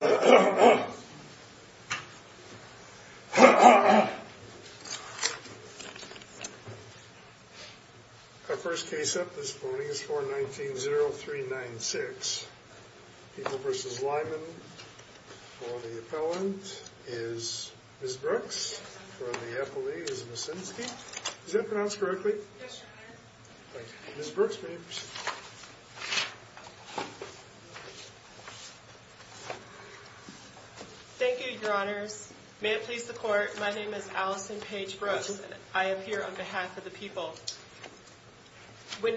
Our first case up this morning is 419-0396. People v. Lymon. For the appellant is Ms. Ms. Brooks, may I proceed? Thank you, your honors. May it please the court, my name is Allison Paige Brooks. I am here on behalf of the people. When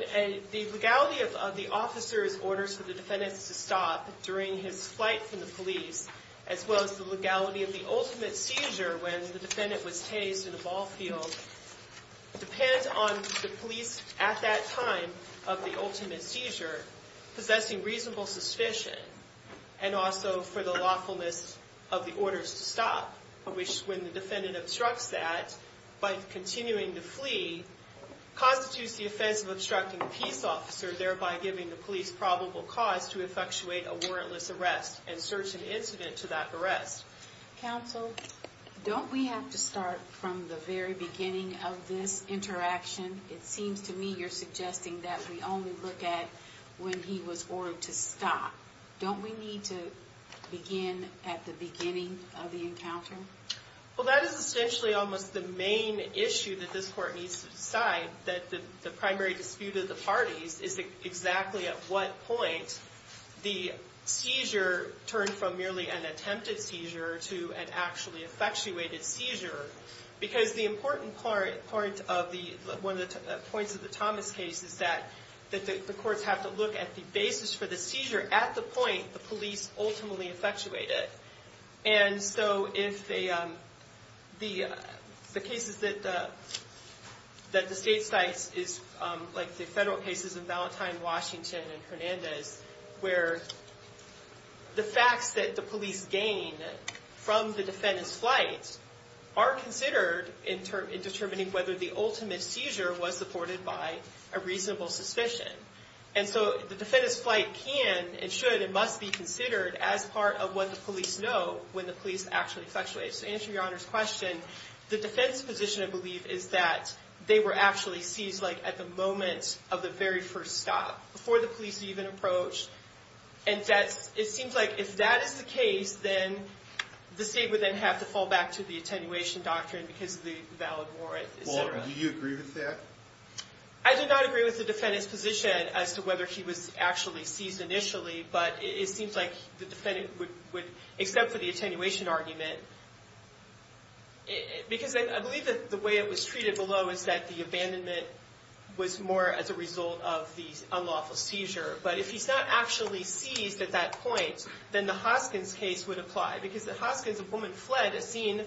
the legality of the officer's orders for the defendant to stop during his flight from the police, as well as the legality of the ultimate seizure when the defendant was tased in a ball field depends on the police at that time of the ultimate seizure possessing reasonable suspicion and also for the lawfulness of the orders to stop, which when the defendant obstructs that by continuing to flee constitutes the offense of obstructing the peace officer, thereby giving the police probable cause to counsel. Don't we have to start from the very beginning of this interaction? It seems to me you're suggesting that we only look at when he was ordered to stop. Don't we need to begin at the beginning of the encounter? Well, that is essentially almost the main issue that this court needs to decide, that the primary dispute of the parties is exactly at what point the seizure turned from merely an attempted seizure to an actually effectuated seizure. Because the important part of one of the points of the Thomas case is that the courts have to look at the basis for the seizure at the point the police ultimately effectuated. And so if the cases that the state cites is like the federal cases of Valentine, Washington, and Hernandez, where the facts that the police gain from the defendant's flight are considered in determining whether the ultimate seizure was supported by a reasonable suspicion. And so the defendant's flight can and should and must be considered as part of what the police know when the police actually effectuated. To answer your Honor's question, the defense position, I believe, is that they were actually seized like at the moment of the very first stop, before the police even approached. And that's, it seems like if that is the case, then the state would then have to fall back to the attenuation doctrine because of the valid warrant. Do you agree with that? I do not agree with the defendant's position as to whether he was actually seized initially, but it seems like the defendant would accept the attenuation argument. Because I believe that the way it was treated below is that the abandonment was more as a result of the unlawful seizure. But if he's not actually seized at that point, then the Hoskins case would apply. Because at Hoskins, a woman fled a scene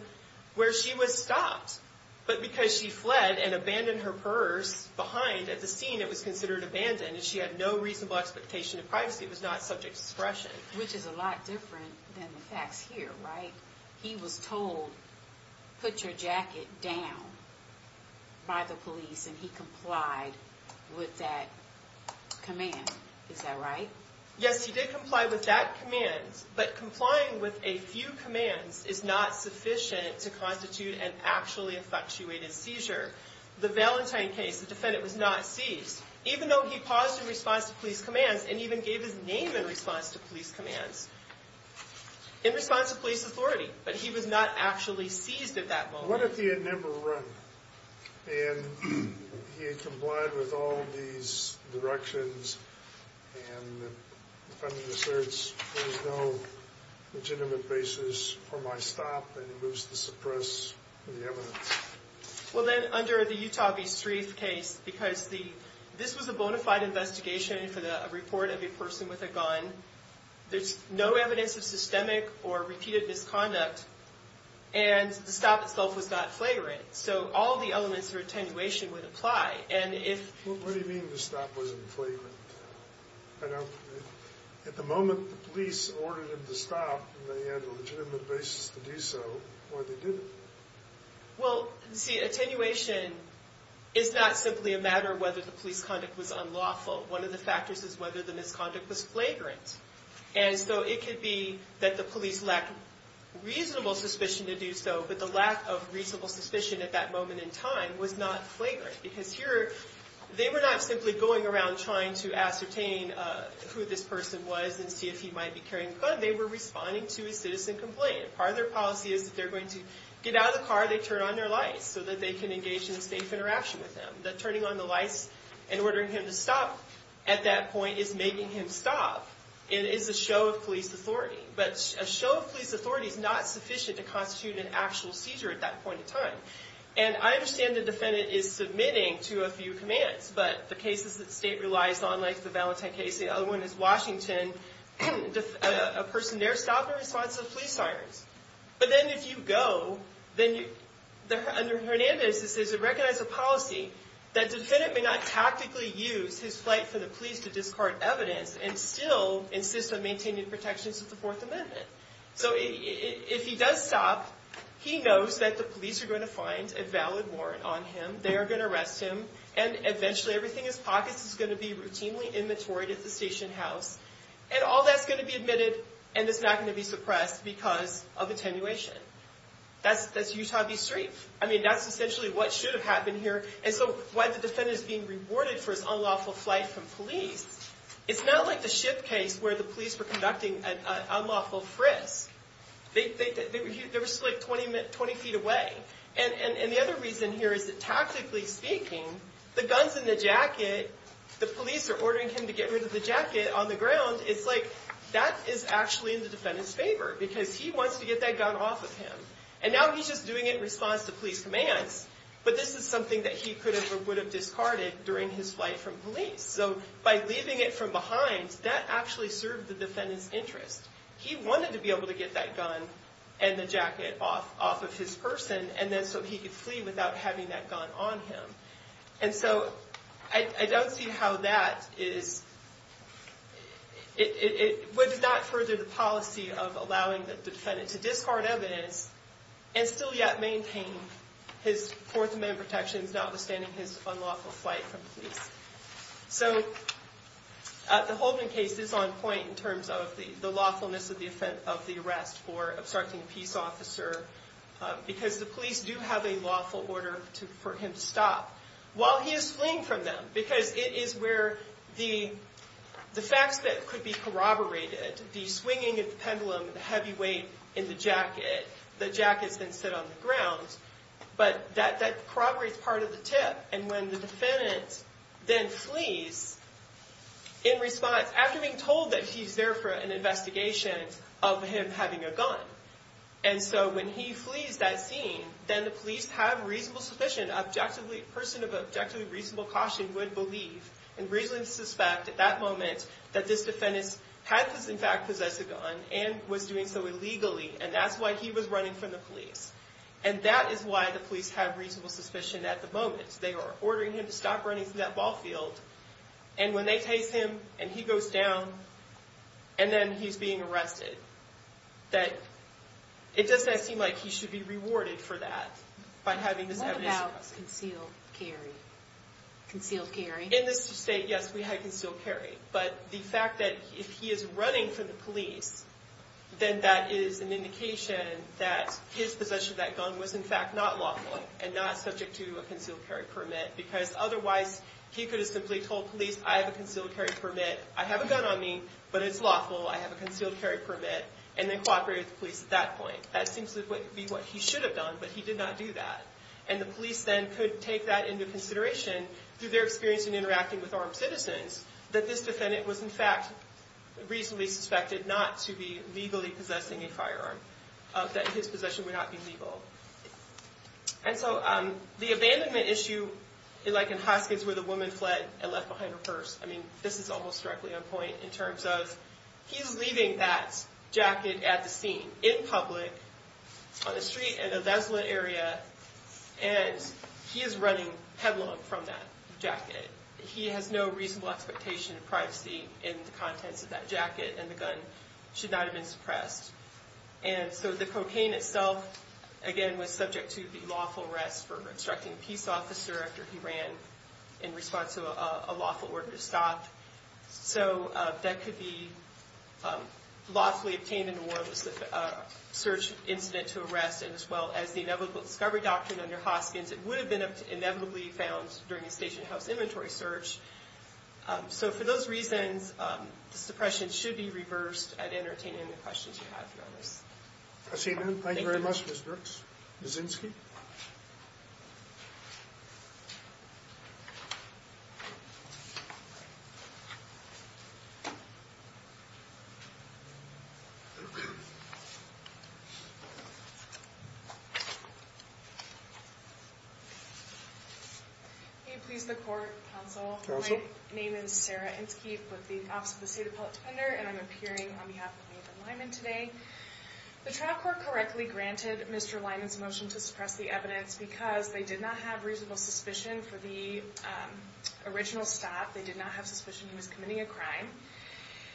where she was stopped. But because she fled and abandoned her purse behind at the scene, it was considered abandoned. And she had no reasonable expectation of privacy. It was not subject to suppression. Which is a lot different than the facts here, right? He was told, put your jacket down by the police, and he complied with that command. Is that right? Yes, he did comply with that command. But complying with a few commands is not sufficient to constitute an actually effectuated seizure. The Valentine case, the defendant was not seized. Even though he paused in response to police commands and even gave his name in response to police commands. In response to police authority. But he was not actually seized at that moment. What if he had never run? And he had complied with all these directions, and the defendant asserts there is no legitimate basis for my stop, and he moves to suppress the evidence? Well, then, under the Utah v. Streeth case, because this was a bona fide investigation for the report of a person with a gun, there's no evidence of systemic or repeated misconduct. And the stop itself was not flagrant. So all the elements of attenuation would apply. And if... What do you mean the stop wasn't flagrant? At the moment, the police ordered him to stop, and they had a legitimate basis to do so. Why they didn't? Well, see, attenuation is not simply a matter of whether the police conduct was unlawful. One of the factors is whether the misconduct was flagrant. And so it could be that the police lacked reasonable suspicion to do so, but the lack of reasonable suspicion at that moment in time was not flagrant. Because here, they were not simply going around trying to ascertain who this person was and see if he might be carrying a gun. They were responding to a citizen complaint. Part of their policy is that if they're going to get out of the car, they turn on their lights so that they can engage in a safe interaction with them. That turning on the lights and ordering him to stop at that point is making him stop. It is a show of police authority. But a show of police authority is not sufficient to constitute an actual seizure at that point in time. And I understand the defendant is submitting to a few commands, but the cases that the state relies on, like the Valentine case, the other one is Washington, a person there stopped in response to the police sirens. But then if you go, then under Hernandez, it says it recognizes a policy that the defendant may not tactically use his flight for the police to discard evidence and still insist on maintaining protections of the Fourth Amendment. So if he does stop, he knows that the police are going to find a valid warrant on him, they are going to arrest him, and eventually everything in his pockets is going to be routinely inventoried at the station house. And all that's going to be admitted, and it's not going to be suppressed because of attenuation. That's Utah v. Street. I mean, that's essentially what should have happened here. And so while the defendant is being rewarded for his unlawful flight from police, it's not like the ship case where the police were conducting an unlawful frisk. They were still like 20 feet away. And the other reason here is that tactically speaking, the gun's in the jacket, the police are ordering him to get rid of the jacket on the ground. It's like that is actually in the defendant's favor because he wants to get that gun off of him. And now he's just doing it in response to police commands, but this is something that he could have or would have discarded during his flight from police. So by leaving it from behind, that actually served the defendant's interest. He wanted to be able to get that gun and the jacket off of his person so he could flee without having that gun on him. And so I don't see how that would not further the policy of allowing the defendant to discard evidence and still yet maintain his Fourth Amendment protections notwithstanding his unlawful flight from police. So the Holden case is on point in terms of the lawfulness of the arrest for obstructing a peace officer because the police do have a lawful order for him to stop. While he is fleeing from them, because it is where the facts that could be corroborated, the swinging of the pendulum, the heavy weight in the jacket, the jackets then sit on the ground. But that corroborates part of the tip. And when the defendant then flees in response, after being told that he's there for an investigation of him having a gun. And so when he flees that scene, then the police have reasonable suspicion. A person of objectively reasonable caution would believe and reasonably suspect at that moment that this defendant had in fact possessed a gun and was doing so illegally. And that's why he was running from the police. And that is why the police have reasonable suspicion at the moment. They are ordering him to stop running from that ball field. And when they chase him and he goes down and then he's being arrested, that it does not seem like he should be rewarded for that by having this evidence. What about concealed carry? Concealed carry? In this state, yes, we had concealed carry. But the fact that if he is running from the police, then that is an indication that his possession of that gun was in fact not lawful and not subject to a concealed carry permit. Because otherwise, he could have simply told police, I have a concealed carry permit. I have a gun on me, but it's lawful. I have a concealed carry permit. And then cooperated with the police at that point. That seems to be what he should have done, but he did not do that. And the police then could take that into consideration through their experience in interacting with armed citizens. That this defendant was in fact reasonably suspected not to be legally possessing a firearm. That his possession would not be legal. And so the abandonment issue, like in Hoskins where the woman fled and left behind her purse. I mean, this is almost directly on point in terms of, he's leaving that jacket at the scene, in public, on the street in a desolate area. And he is running headlong from that jacket. He has no reasonable expectation of privacy in the contents of that jacket. And the gun should not have been suppressed. And so the cocaine itself, again, was subject to the lawful arrest for obstructing a peace officer. After he ran in response to a lawful order to stop. So that could be lawfully obtained in a warrantless search incident to arrest. And as well as the inevitable discovery doctrine under Hoskins. It would have been inevitably found during a station house inventory search. So for those reasons, the suppression should be reversed at entertaining the questions you have for others. Thank you very much Ms. Brooks. Ms. Zinske? Thank you. May it please the court, counsel. Counsel. My name is Sarah Zinske with the Office of the State Appellate Defender. And I'm appearing on behalf of Nathan Lyman today. The trial court correctly granted Mr. Lyman's motion to suppress the evidence. Because they did not have reasonable suspicion for the original stop. They did not have suspicion he was committing a crime.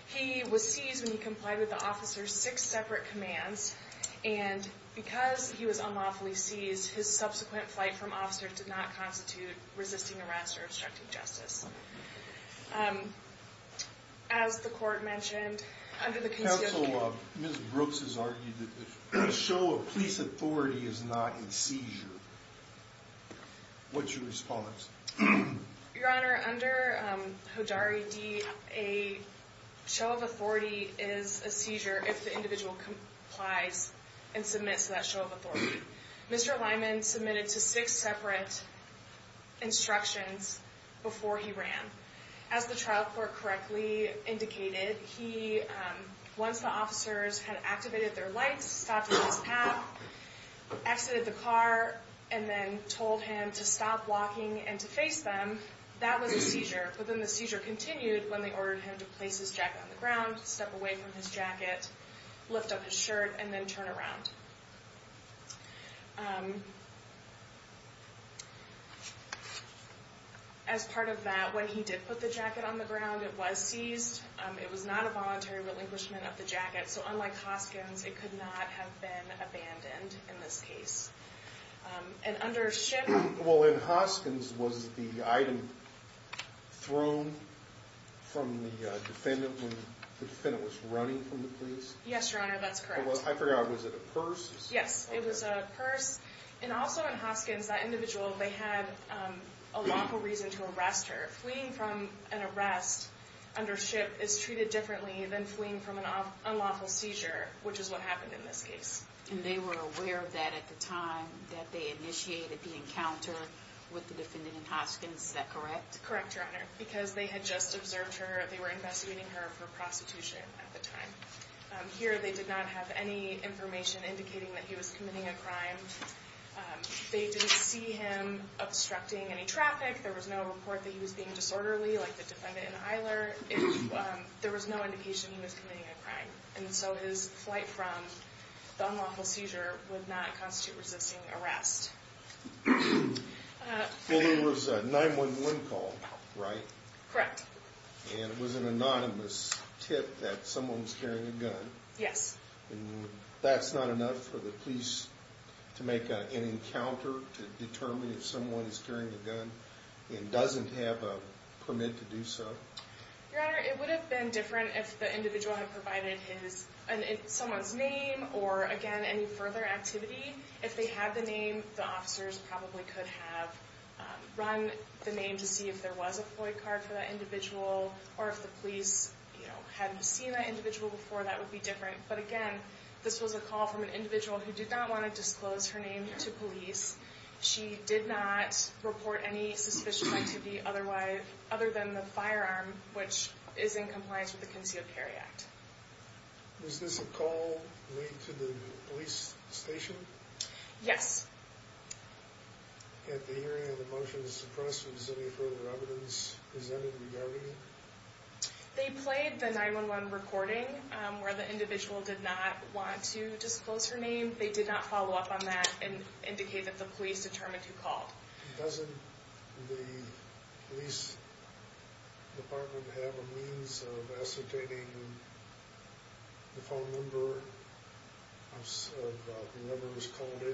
He was seized when he complied with the officer's six separate commands. And because he was unlawfully seized, his subsequent flight from officer did not constitute resisting arrest or obstructing justice. As the court mentioned, under the conceivable... Ms. Brooks has argued that the show of police authority is not in seizure. What's your response? Your Honor, under Hodari D, a show of authority is a seizure if the individual complies and submits to that show of authority. Mr. Lyman submitted to six separate instructions before he ran. As the trial court correctly indicated, he... Once the officers had activated their lights, stopped at his path, exited the car, and then told him to stop walking and to face them, that was a seizure. But then the seizure continued when they ordered him to place his jacket on the ground, step away from his jacket, lift up his shirt, and then turn around. As part of that, when he did put the jacket on the ground, it was seized. It was not a voluntary relinquishment of the jacket. So unlike Hoskins, it could not have been abandoned in this case. And under Schiff... Well, in Hoskins, was the item thrown from the defendant when the defendant was running from the police? Yes, Your Honor, that's correct. I forgot, was it a purse? Yes, it was a purse. And also in Hoskins, that individual, they had a lawful reason to arrest her. Fleeing from an arrest under Schiff is treated differently than fleeing from an unlawful seizure, which is what happened in this case. And they were aware of that at the time that they initiated the encounter with the defendant in Hoskins, is that correct? Correct, Your Honor, because they had just observed her. They were investigating her for prostitution at the time. Here, they did not have any information indicating that he was committing a crime. They didn't see him obstructing any traffic. There was no report that he was being disorderly, like the defendant in Eiler. There was no indication he was committing a crime. And so his flight from the unlawful seizure would not constitute resisting arrest. Well, there was a 911 call, right? Correct. And it was an anonymous tip that someone was carrying a gun. Yes. And that's not enough for the police to make an encounter to determine if someone is carrying a gun and doesn't have a permit to do so? Your Honor, it would have been different if the individual had provided someone's name or, again, any further activity. If they had the name, the officers probably could have run the name to see if there was a FOIA card for that individual. Or if the police, you know, hadn't seen that individual before, that would be different. But, again, this was a call from an individual who did not want to disclose her name to police. She did not report any suspicious activity other than the firearm, which is in compliance with the Concealed Carry Act. Was this a call made to the police station? Yes. At the hearing of the motion to suppress, was any further evidence presented regarding it? They played the 911 recording where the individual did not want to disclose her name. They did not follow up on that and indicate that the police determined who called. Doesn't the police department have a means of ascertaining the phone number of whoever was called in?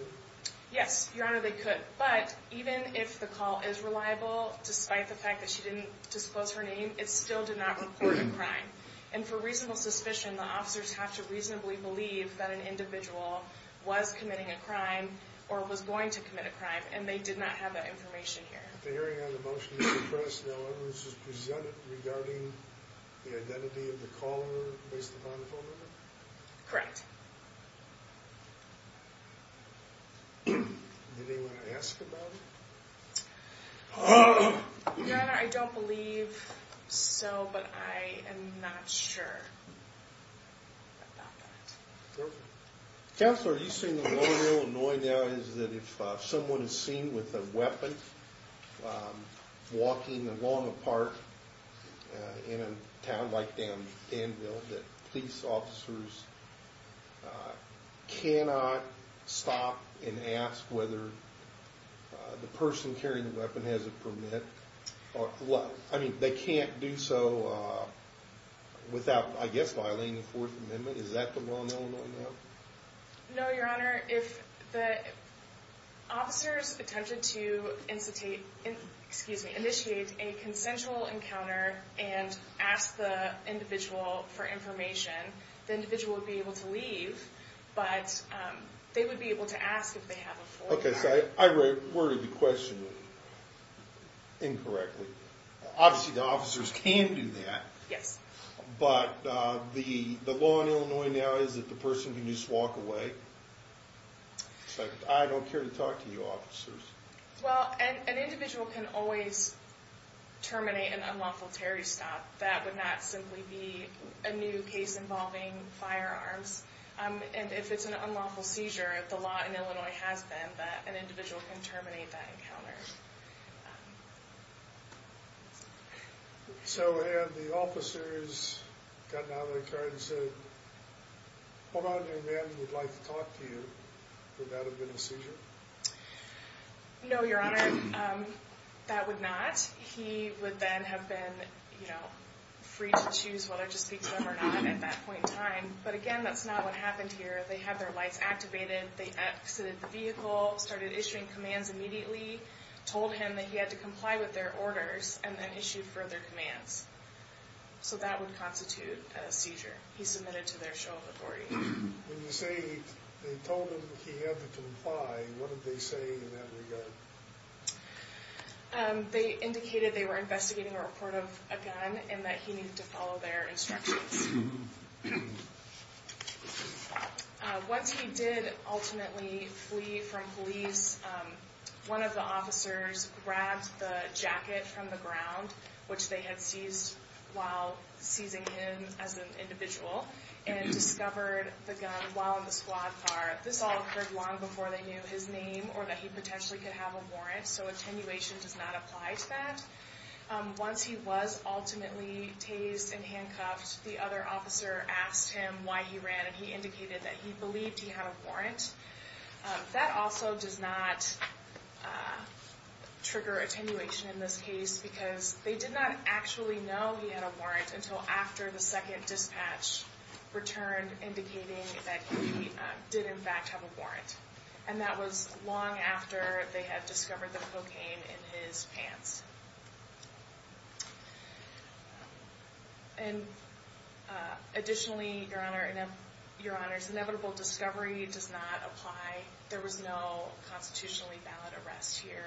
Yes, Your Honor, they could. But even if the call is reliable, despite the fact that she didn't disclose her name, it still did not report a crime. And for reasonable suspicion, the officers have to reasonably believe that an individual was committing a crime or was going to commit a crime. And they did not have that information here. At the hearing of the motion to suppress, no evidence was presented regarding the identity of the caller based upon the phone number? Correct. Did anyone ask about it? Your Honor, I don't believe so, but I am not sure about that. Perfect. Counselor, are you saying the law in Illinois now is that if someone is seen with a weapon walking along a park in a town like Danville, that police officers cannot stop and ask whether the person carrying the weapon has a permit? I mean, they can't do so without, I guess, violating the Fourth Amendment. Is that the law in Illinois now? No, Your Honor. If the officers attempted to initiate a consensual encounter and asked the individual for information, the individual would be able to leave, but they would be able to ask if they have a Fourth Amendment. Okay, so I worded the question incorrectly. Obviously, the officers can do that. Yes. But the law in Illinois now is that the person can just walk away. It's like, I don't care to talk to you, officers. Well, an individual can always terminate an unlawful terrorist act. That would not simply be a new case involving firearms. And if it's an unlawful seizure, the law in Illinois has been that an individual can terminate that encounter. So had the officers gotten out of their car and said, hold on, your man would like to talk to you, would that have been a seizure? No, Your Honor, that would not. He would then have been free to choose whether to speak to them or not at that point in time. But again, that's not what happened here. They had their lights activated, they exited the vehicle, started issuing commands immediately, told him that he had to comply with their orders, and then issued further commands. So that would constitute a seizure. He submitted to their show of authority. When you say they told him he had to comply, what did they say in that regard? They indicated they were investigating a report of a gun and that he needed to follow their instructions. Once he did ultimately flee from police, one of the officers grabbed the jacket from the ground, which they had seized while seizing him as an individual, and discovered the gun while in the squad car. This all occurred long before they knew his name or that he potentially could have a warrant, so attenuation does not apply to that. Once he was ultimately tased and handcuffed, the other officer asked him why he ran, and he indicated that he believed he had a warrant. That also does not trigger attenuation in this case because they did not actually know he had a warrant until after the second dispatch returned indicating that he did in fact have a warrant. And that was long after they had discovered the cocaine in his pants. Additionally, Your Honor, his inevitable discovery does not apply. There was no constitutionally valid arrest here.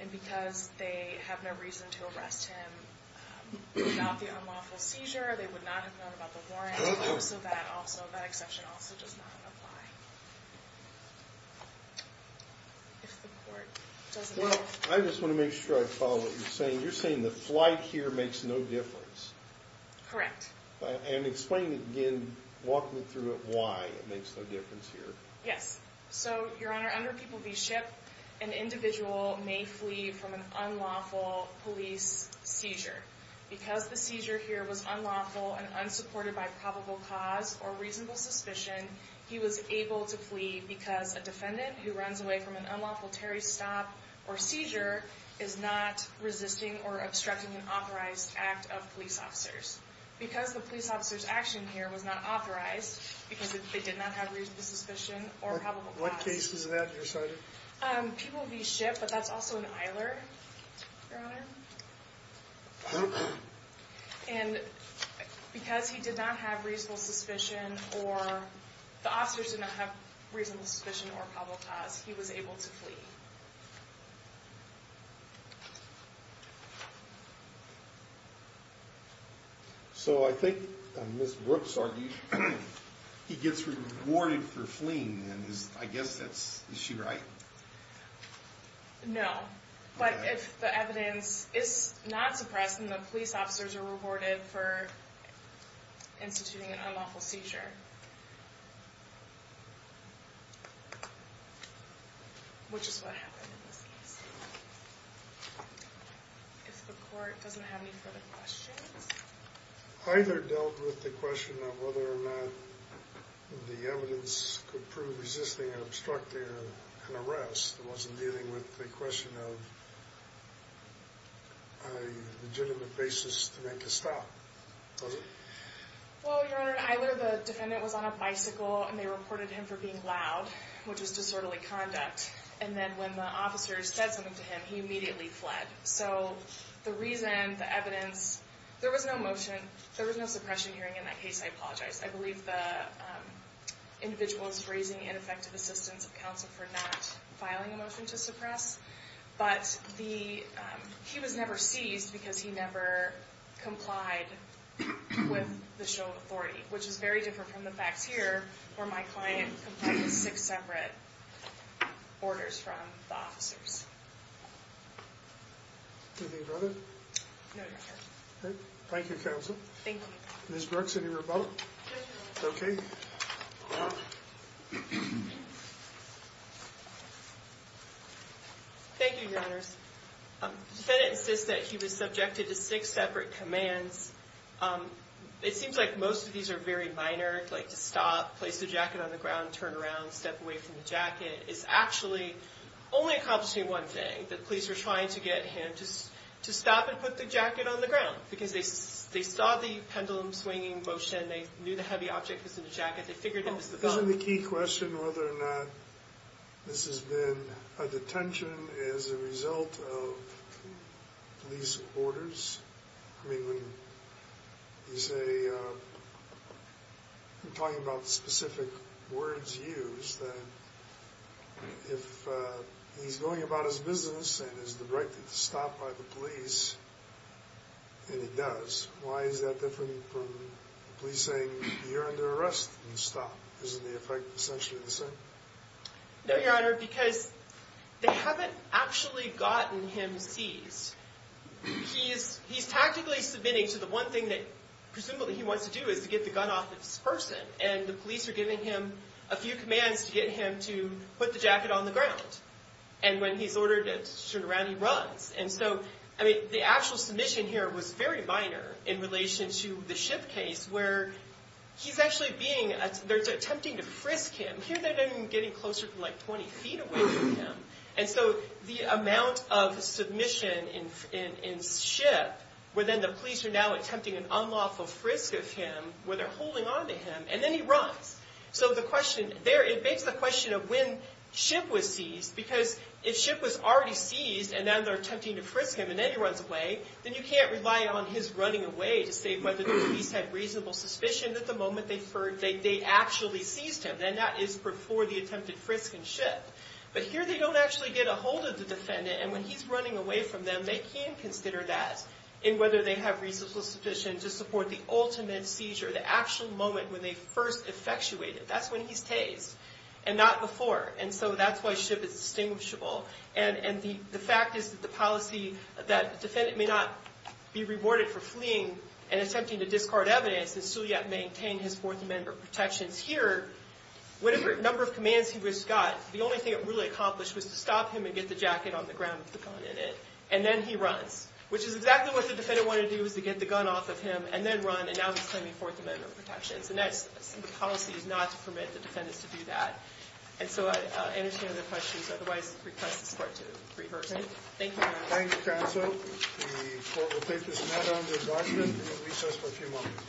And because they have no reason to arrest him without the unlawful seizure, they would not have known about the warrant, so that exception also does not apply. I just want to make sure I follow what you're saying. You're saying the flight here makes no difference. Correct. And explain again, walk me through it, why it makes no difference here. Yes. So, Your Honor, under People v. Shipp, an individual may flee from an unlawful police seizure. Because the seizure here was unlawful and unsupported by probable cause or reasonable suspicion, he was able to flee because a defendant who runs away from an unlawful Terry stop or seizure is not resisting or obstructing an authorized act of police officers. Because the police officer's action here was not authorized, because they did not have reasonable suspicion or probable cause. What case is that you're citing? People v. Shipp, but that's also an Eiler, Your Honor. And because he did not have reasonable suspicion or, the officers did not have reasonable suspicion or probable cause, he was able to flee. So I think Ms. Brooks argues he gets rewarded for fleeing, and I guess that's, is she right? No. But if the evidence is not suppressed, then the police officers are rewarded for instituting an unlawful seizure. Which is what happened in this case. If the court doesn't have any further questions. Eiler dealt with the question of whether or not the evidence could prove resisting and obstructing an arrest. It wasn't dealing with the question of a legitimate basis to make a stop, was it? Well, Your Honor, Eiler, the defendant, was on a bicycle and they reported him for being loud, which was disorderly conduct. And then when the officers said something to him, he immediately fled. So the reason, the evidence, there was no motion, there was no suppression hearing in that case, I apologize. I believe the individual is raising ineffective assistance of counsel for not filing a motion to suppress. But he was never seized because he never complied with the show of authority. Which is very different from the facts here, where my client complied with six separate orders from the officers. Anything further? No, Your Honor. Okay. Thank you, counsel. Thank you. Ms. Brooks, any rebuttal? No, Your Honor. Okay. Thank you, Your Honors. The defendant insists that he was subjected to six separate commands. It seems like most of these are very minor, like to stop, place the jacket on the ground, turn around, step away from the jacket. It's actually only accomplishing one thing, that police are trying to get him to stop and put the jacket on the ground. Because they saw the pendulum swinging motion. They knew the heavy object was in the jacket. They figured it was the gun. Isn't the key question whether or not this has been a detention as a result of police orders? I mean, when you say, talking about specific words used, if he's going about his business and has the right to stop by the police, and he does, why is that different from the police saying you're under arrest and stop? Isn't the effect essentially the same? No, Your Honor, because they haven't actually gotten him seized. He's tactically submitting to the one thing that presumably he wants to do is to get the gun off of this person. And the police are giving him a few commands to get him to put the jacket on the ground. And when he's ordered to turn around, he runs. And so, I mean, the actual submission here was very minor in relation to the ship case where he's actually being, they're attempting to frisk him. Here they're getting closer to like 20 feet away from him. And so the amount of submission in ship, where then the police are now attempting an unlawful frisk of him, where they're holding onto him, and then he runs. So the question there, it begs the question of when ship was seized, because if ship was already seized and now they're attempting to frisk him and then he runs away, then you can't rely on his running away to say whether the police had reasonable suspicion that the moment they actually seized him. Then that is before the attempted frisk in ship. But here they don't actually get a hold of the defendant. And when he's running away from them, they can consider that in whether they have reasonable suspicion to support the ultimate seizure, the actual moment when they first effectuated. That's when he stays and not before. And so that's why ship is distinguishable. And the fact is that the policy that the defendant may not be rewarded for fleeing and attempting to discard evidence and still yet maintain his Fourth Amendment protections. Here, whatever number of commands he was got, the only thing it really accomplished was to stop him and get the jacket on the ground with the gun in it. And then he runs, which is exactly what the defendant wanted to do, was to get the gun off of him and then run. And now he's claiming Fourth Amendment protections. And that's the policy, is not to permit the defendants to do that. And so I understand the questions. Otherwise, I request the court to rehearse it. Thank you, Your Honor. Thank you, counsel. The court will take this matter under endorsement and it will recess for a few moments.